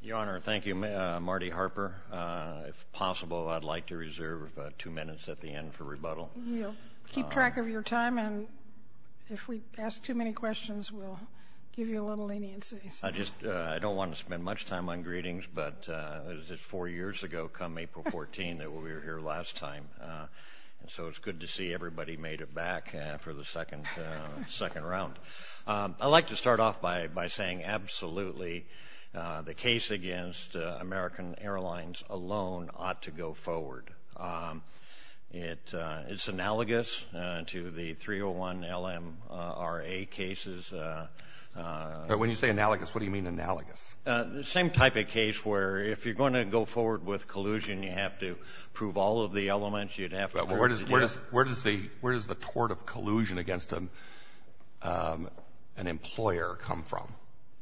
Your Honor, thank you, Marty Harper. If possible, I'd like to reserve two minutes at the end for rebuttal. We'll keep track of your time and if we ask too many questions we'll give you a little leniency. I just I don't want to spend much time on greetings but it's four years ago come April 14 that we were here last time and so it's good to see everybody made it back for the second round. I'd like to start off by by saying absolutely the case against American Airlines alone ought to go forward. It it's analogous to the 301 LMRA cases. When you say analogous what do you mean analogous? The same type of case where if you're going to go forward with collusion you have to prove all of the elements you'd have. Where does where does the where does the tort of collusion against an employer come from?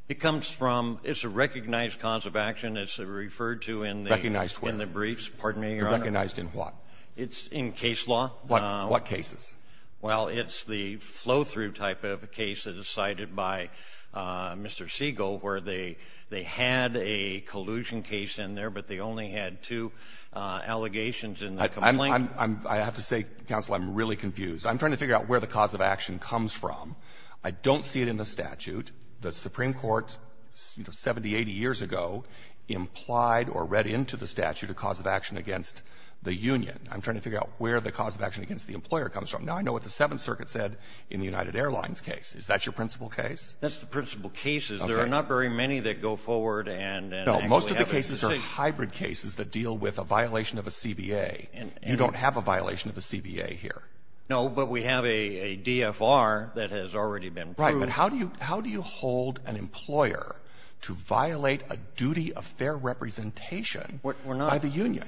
It comes from it's a recognized cause of action. It's referred to in recognized where? In the briefs. Pardon me, Your Honor. Recognized in what? It's in case law. What cases? Well it's the flow-through type of a case that is cited by Mr. Siegel where they they had a collusion case in there but they only had two allegations in the complaint. I have to say Counsel, I'm really confused. I'm trying to figure out where the cause of action comes from. I don't see it in the statute. The Supreme Court, you know, 70, 80 years ago implied or read into the statute a cause of action against the union. I'm trying to figure out where the cause of action against the employer comes from. Now I know what the Seventh Circuit said in the United Airlines case. Is that your principal case? That's the principal case. There are not very many that go forward and most of the cases are hybrid cases that deal with a violation of a CBA. You don't have a violation of a CBA here. No, but we have a DFR that has already been proved. Right. But how do you hold an employer to violate a duty of fair representation by the union?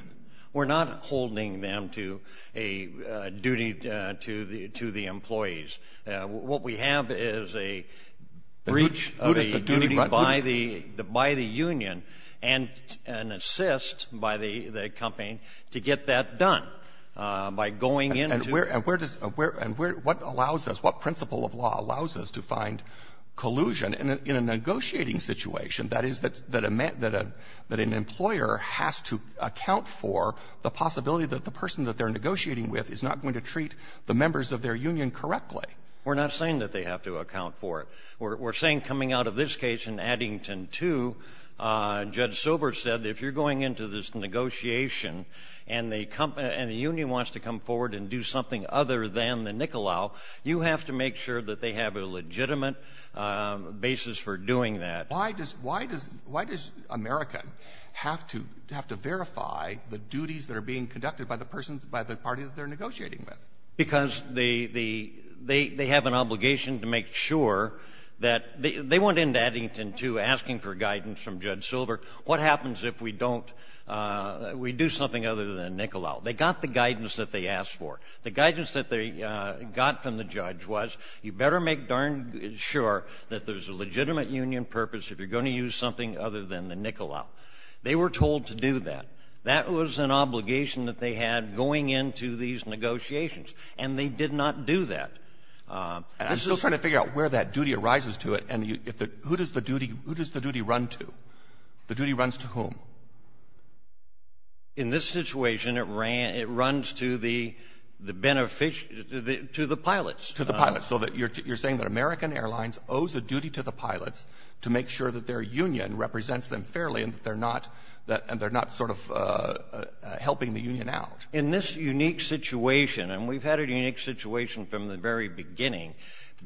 We're not holding them to a duty to the employees. What we have is a breach of a duty by the union and an assist by the company to get that done by going into the union. the union wants to come forward and do something other than the NICOLAO, you have to make sure that they have a legitimate basis for doing that. Why does why does why does America have to have to verify the duties that are being conducted by the persons by the party that they're negotiating with? Because they have an obligation to make sure that they went into Eddington, too, asking for guidance from Judge Silver. What happens if we don't, if we do something other than NICOLAO? They got the guidance that they asked for. The guidance that they got from the judge was, you better make darn sure that there's a legitimate union purpose if you're going to use something other than the NICOLAO. They were told to do that. That was an obligation that they had going into these negotiations. And they did not do that. And I'm still trying to figure out where that duty arises to it. And if the who does the duty who does the duty run to? The duty runs to whom? In this situation, it ran it runs to the beneficiary to the pilots. To the pilots. So you're saying that American Airlines owes a duty to the pilots to make sure that their union represents them fairly and that they're not and they're not sort of helping the union out? In this unique situation, and we've had a unique situation from the very beginning,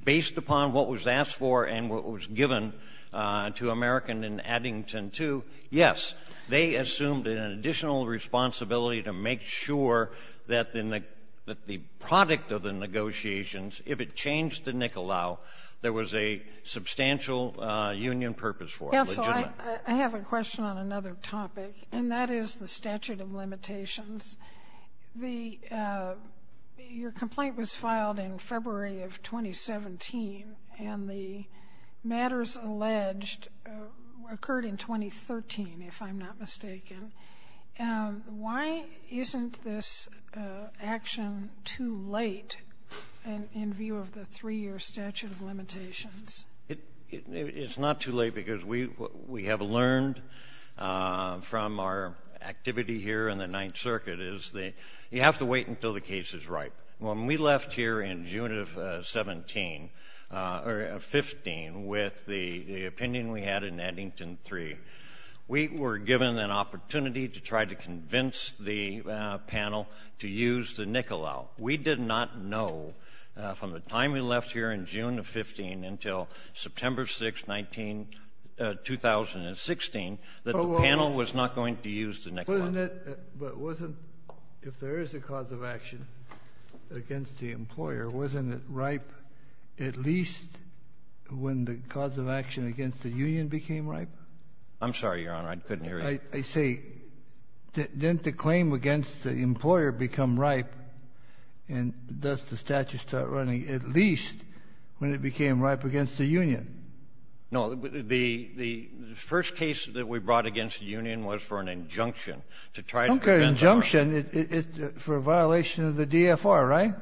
based upon what was asked for and what was given to American in Eddington, too, yes, they assumed an additional responsibility to make sure that in the that the product of the negotiations, if it changed to NICOLAO, there was a substantial union purpose for it. I have a question on another topic, and that is the statute of limitations. Your complaint was filed in February of 2017, and the matters alleged occurred in 2013, if I'm not mistaken. Why isn't this action too late in view of the three-year statute of limitations? It's not too late because we have learned from our activity here in the Ninth Circuit is that you have to wait until the case is right. When we left here in June of 15 with the opinion we had in Eddington 3, we were given an opportunity to try to convince the panel to use the NICOLAO. We did not know from the time we left here in June of 15 until September 6, 2016, that the panel was not going to use the NICOLAO. But wasn't, if there is a cause of action against the employer, wasn't it ripe at least when the cause of action against the union became ripe? I'm sorry, Your Honor, I couldn't hear you. I say, didn't the claim against the employer become ripe, and does the statute start running at least when it became ripe against the union? No, the first case that we brought against the union was for an injunction to try to prevent a riot. Okay, an injunction for a violation of the DFR, right?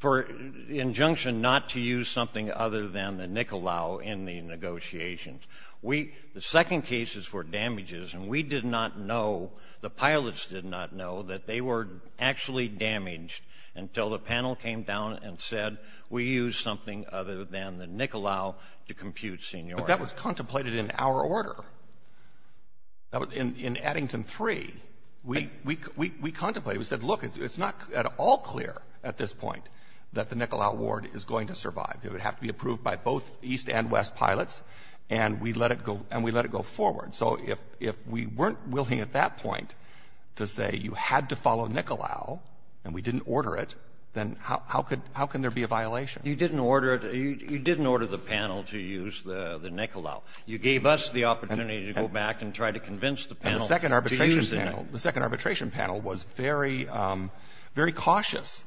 For an injunction not to use something other than the NICOLAO in the negotiations. The second case is for damages, and we did not know, the pilots did not know that they were actually damaged until the panel came down and said, we used something other than the NICOLAO to compute seniority. But that was contemplated in our order. In Eddington 3, we contemplated, we said, look, it's not at all clear at this point that the NICOLAO ward is going to survive. It would have to be approved by both East and West pilots, and we let it go forward. So if we weren't willing at that point to say you had to follow NICOLAO and we didn't order it, then how can there be a violation? You didn't order the panel to use the NICOLAO. You gave us the opportunity to go back and try to convince the panel to use the NICOLAO. The second arbitration panel was very cautious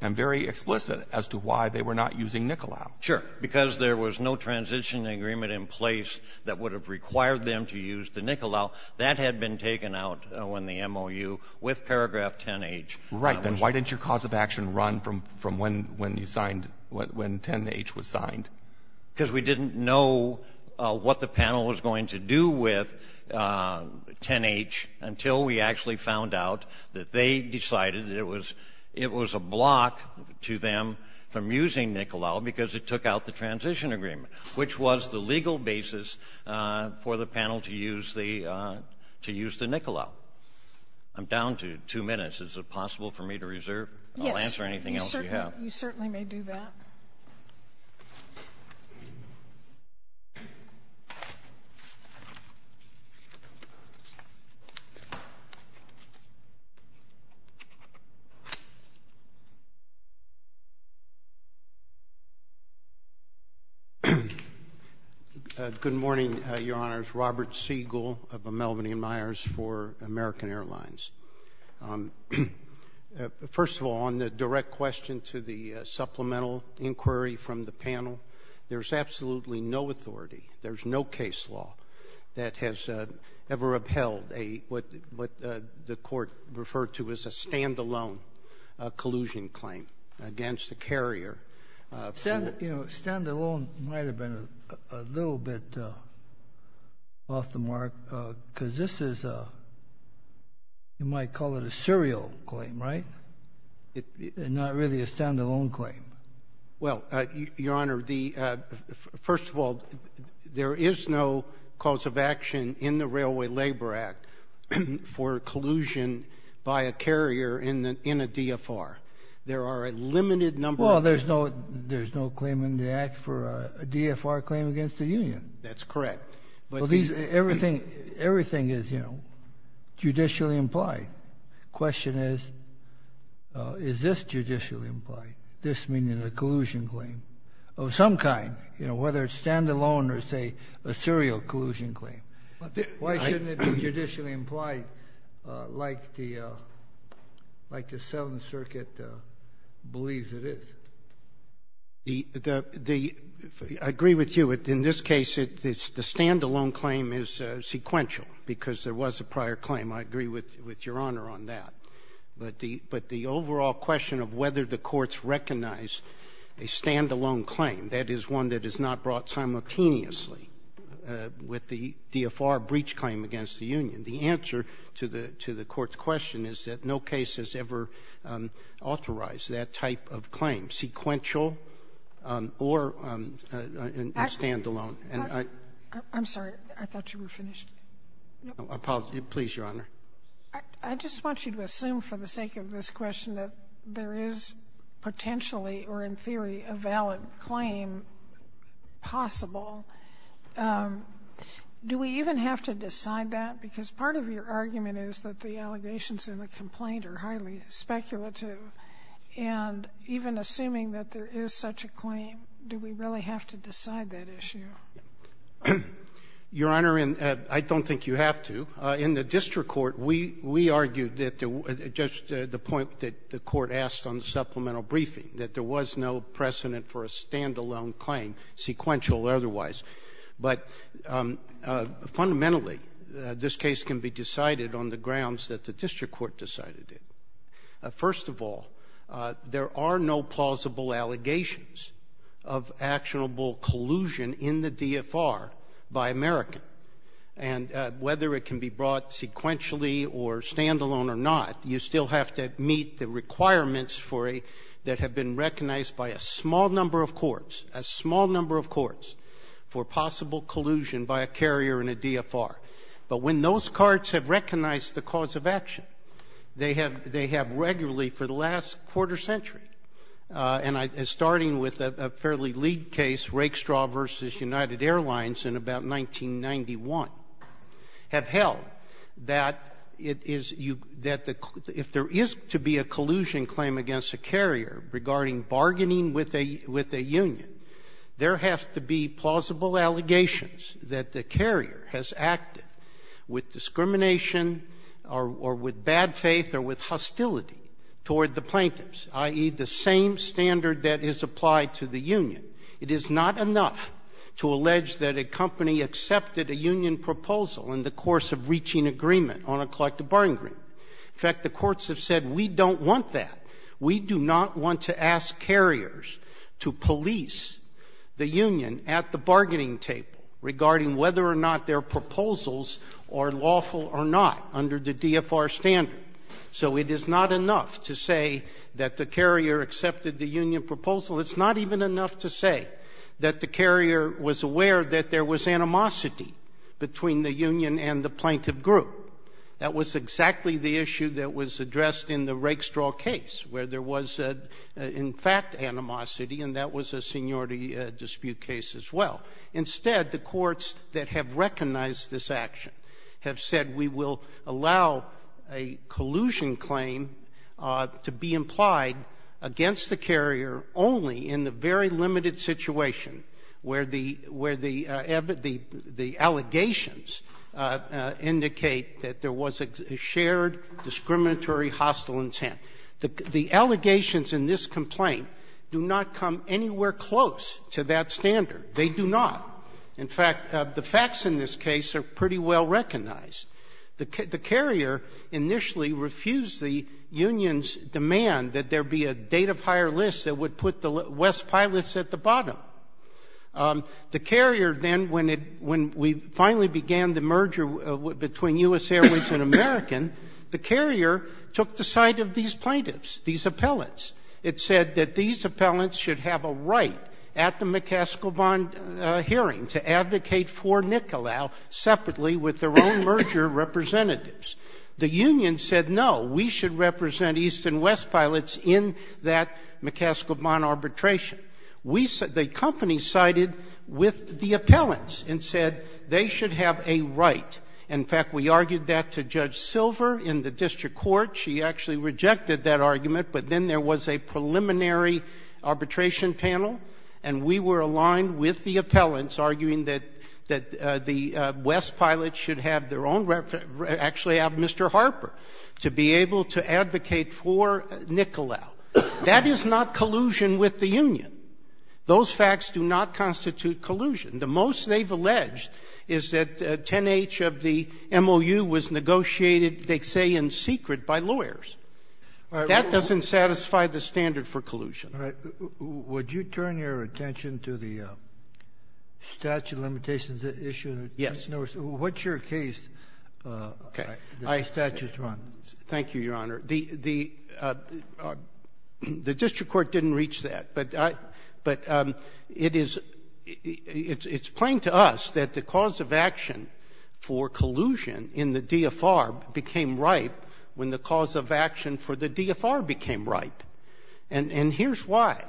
and very explicit as to why they were not using NICOLAO. Sure. Because there was no transition agreement in place that would have required them to use the NICOLAO. That had been taken out in the MOU with paragraph 10H. Right. Then why didn't your cause of action run from when you signed, when 10H was signed? Because we didn't know what the panel was going to do with 10H until we actually found out that they decided it was a block to them from using NICOLAO because it took out the transition agreement, which was the legal basis for the panel to use the NICOLAO. I'm down to two minutes. Is it possible for me to reserve? Yes. I'll answer anything else you have. But you certainly may do that. Good morning, Your Honors. Robert Siegel of Melvin E. Myers for American Airlines. First of all, on the direct question to the supplemental inquiry from the panel, there's absolutely no authority, there's no case law that has ever upheld what the Court referred to as a stand-alone collusion claim against the carrier. Stand-alone might have been a little bit off the mark because this is, you might call it a serial claim, right? Not really a stand-alone claim. Well, Your Honor, first of all, there is no cause of action in the Railway Labor Act for collusion by a carrier in a DFR. There are a limited number of cases. Well, there's no claim in the Act for a DFR claim against the Union. That's correct. Well, everything is, you know, judicially implied. Question is, is this judicially implied? This meaning a collusion claim of some kind, whether it's stand-alone or, say, a serial collusion claim. Why shouldn't it be judicially implied like the Seventh Circuit believes it is? I agree with you. In this case, the stand-alone claim is sequential because there was a prior claim. I agree with Your Honor on that. But the overall question of whether the courts recognize a stand-alone claim, that is one that is not brought simultaneously with the DFR breach claim against the Union. The answer to the court's question is that no case has ever authorized that type of claim, sequential or stand-alone. I'm sorry. I thought you were finished. I apologize. Please, Your Honor. I just want you to assume for the sake of this question that there is potentially or, in theory, a valid claim possible, do we even have to decide that? Because part of your argument is that the allegations in the complaint are highly speculative, and even assuming that there is such a claim, do we really have to decide that issue? Your Honor, I don't think you have to. In the district court, we argued that there was the point that the court asked on the grounds that there was no precedent for a stand-alone claim, sequential or otherwise. But fundamentally, this case can be decided on the grounds that the district court decided it. First of all, there are no plausible allegations of actionable collusion in the DFR by American. And whether it can be brought sequentially or stand-alone or not, you still have to meet the requirements that have been recognized by a small number of courts, a small number of courts, for possible collusion by a carrier in a DFR. But when those courts have recognized the cause of action, they have regularly for the last quarter century, and starting with a fairly league case, Rake Straw v. United Union, there have to be plausible allegations that the carrier has acted with discrimination or with bad faith or with hostility toward the plaintiffs, i.e., the same standard that is applied to the union. It is not enough to allege that a company accepted a union proposal in the course of reaching agreement on a collective bargaining agreement. In fact, the courts have said, we don't want that. We do not want to ask carriers to police the union at the bargaining table regarding whether or not their proposals are lawful or not under the DFR standard. So it is not enough to say that the carrier accepted the union proposal. It's not even enough to say that the carrier was aware that there was animosity between the union and the plaintiff group. That was exactly the issue that was addressed in the Rake Straw case, where there was, in fact, animosity, and that was a seniority dispute case as well. Instead, the courts that have recognized this action have said, we will allow a collusion claim to be implied against the carrier only in the very limited situation where the allegations indicate that there was a shared discriminatory hostile intent. The allegations in this complaint do not come anywhere close to that standard. They do not. In fact, the facts in this case are pretty well recognized. The carrier initially refused the union's demand that there be a date of hire list that would put the West Pilots at the bottom. The carrier then, when it — when we finally began the merger between U.S. Airways and American, the carrier took the side of these plaintiffs, these appellants. It said that these appellants should have a right at the McCaskill-Bond hearing to advocate for Nicolau separately with their own merger representatives. The union said, no, we should represent East and West Pilots in that McCaskill-Bond arbitration. We said — the company sided with the appellants and said they should have a right. In fact, we argued that to Judge Silver in the district court. She actually rejected that argument. But then there was a preliminary arbitration panel, and we were aligned with the appellants, arguing that the West Pilots should have their own — actually have Mr. Harper to be able to advocate for Nicolau. That is not collusion with the union. Those facts do not constitute collusion. The most they've alleged is that 10-H of the MOU was negotiated, they say, in secret by lawyers. That doesn't satisfy the standard for collusion. All right. Would you turn your attention to the statute of limitations issue? Yes. In other words, what's your case that the statute's wrong? Thank you, Your Honor. The — the district court didn't reach that. But I — but it is — it's plain to us that the cause of action for collusion in the DFR became ripe when the cause of action for the DFR became ripe. And — and here's why.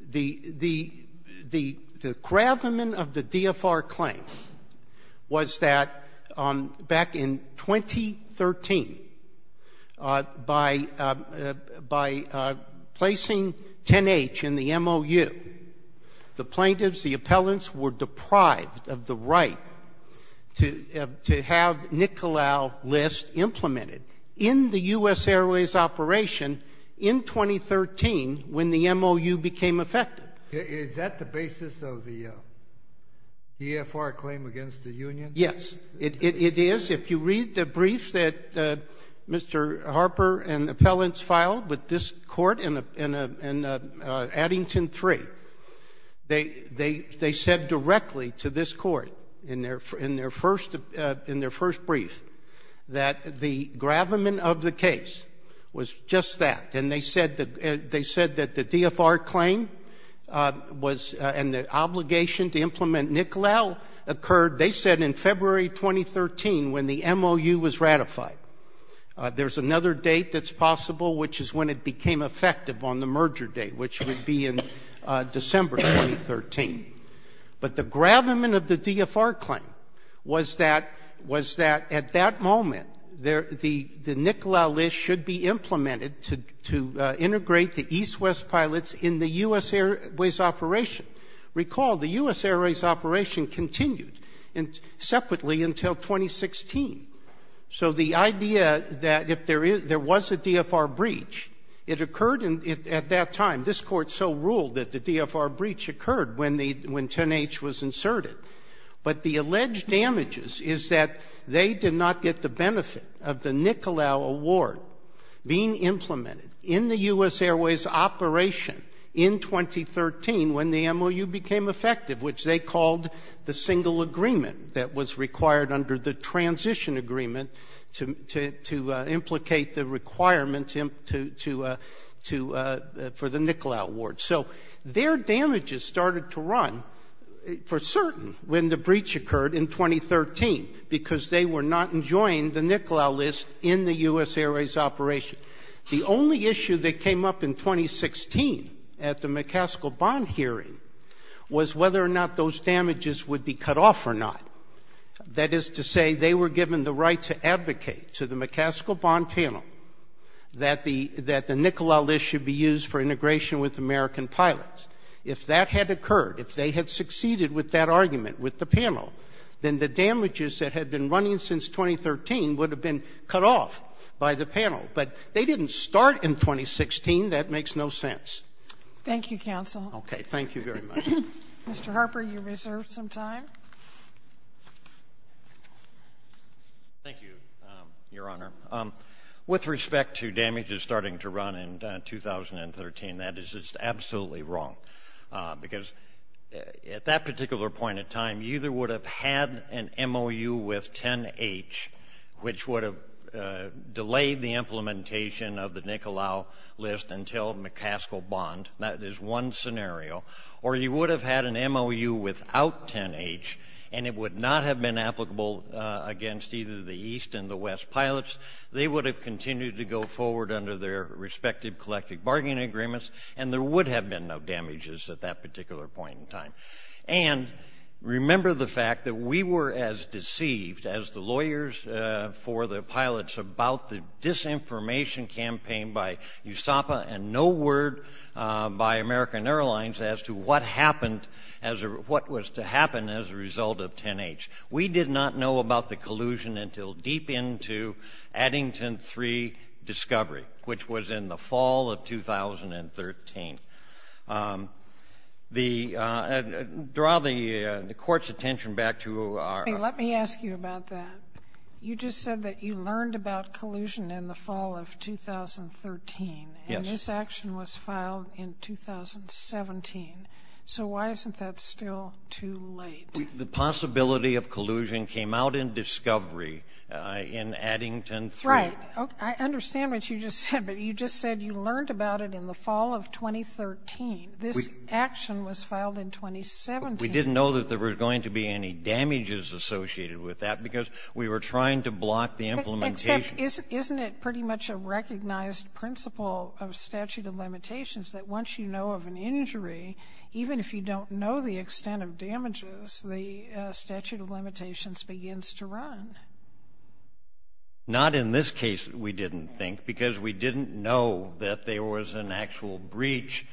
The — the — the — the gravamen of the DFR claim was that back in 2013, the by — by placing 10-H in the MOU, the plaintiffs, the appellants, were deprived of the right to — to have Nicolau List implemented in the U.S. Airways operation in 2013 when the MOU became effective. Is that the basis of the EFR claim against the union? Yes. It — it — it is. If you read the brief that Mr. Harper and appellants filed with this court in a — in a — in an Addington III, they — they — they said directly to this court in their — in their first — in their first brief that the gravamen of the case was just that. And they said that — they said that the DFR claim was — and the obligation to implement Nicolau occurred, they said, in February 2013 when the MOU was ratified. There's another date that's possible, which is when it became effective on the merger date, which would be in December 2013. But the gravamen of the DFR claim was that — was that at that moment, the — the Nicolau List should be implemented to — to integrate the East-West pilots in the U.S. Airways operation. Recall the U.S. Airways operation continued separately until 2016. So the idea that if there is — there was a DFR breach, it occurred in — at that time. This court so ruled that the DFR breach occurred when the — when 10-H was inserted. But the alleged damages is that they did not get the benefit of the Nicolau award being implemented in the U.S. Airways operation in 2013 when the MOU became effective, which they called the single agreement that was required under the transition agreement to implicate the requirement to — for the Nicolau award. So their damages started to run for certain when the breach occurred in 2013, because they were not enjoying the Nicolau List in the U.S. Airways operation. The only issue that came up in 2016 at the McCaskill-Bond hearing was whether or not those damages would be cut off or not. That is to say, they were given the right to advocate to the McCaskill-Bond panel that the — that the Nicolau List should be used for integration with American pilots. If that had occurred, if they had succeeded with that argument with the panel, then the signing since 2013 would have been cut off by the panel. But they didn't start in 2016. That makes no sense. Thank you, counsel. Okay. Thank you very much. Mr. Harper, you reserve some time. Thank you, Your Honor. With respect to damages starting to run in 2013, that is just absolutely wrong, because at that particular point in time, you either would have had an MOU with 10-H, which would have delayed the implementation of the Nicolau List until McCaskill-Bond. That is one scenario. Or you would have had an MOU without 10-H, and it would not have been applicable against either the East and the West pilots. They would have continued to go forward under their respective collective bargaining agreements, and there would have been no damages at that particular point in time. And remember the fact that we were as deceived as the lawyers for the pilots about the disinformation campaign by USAPA and no word by American Airlines as to what happened, what was to happen as a result of 10-H. We did not know about the collusion until deep into Addington 3 discovery, which was in the fall of 2013. Draw the Court's attention back to our — Let me ask you about that. You just said that you learned about collusion in the fall of 2013. Yes. And this action was filed in 2017. So why isn't that still too late? The possibility of collusion came out in discovery in Addington 3 — Right. I understand what you just said, but you just said you learned about it in the fall of 2013. This action was filed in 2017. We didn't know that there were going to be any damages associated with that because we were trying to block the implementation. Except isn't it pretty much a recognized principle of statute of limitations that once you know of an injury, even if you don't know the extent of damages, the statute of limitations begins to run? Not in this case, we didn't think, because we didn't know that there was an actual breach.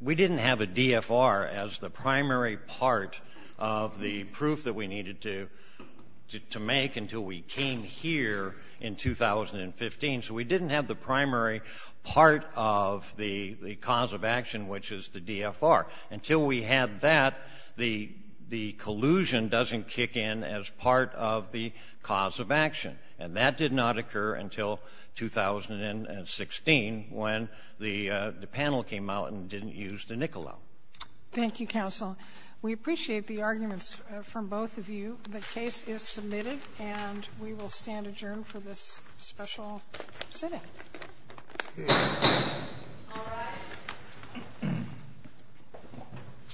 We didn't have a DFR as the primary part of the proof that we needed to make until we came here in 2015. So we didn't have the primary part of the cause of action, which is the DFR. Until we had that, the collusion doesn't kick in as part of the collusion cause of action. And that did not occur until 2016, when the panel came out and didn't use the NICOLA. Thank you, counsel. We appreciate the arguments from both of you. The case is submitted, and we will stand adjourned for this special sitting.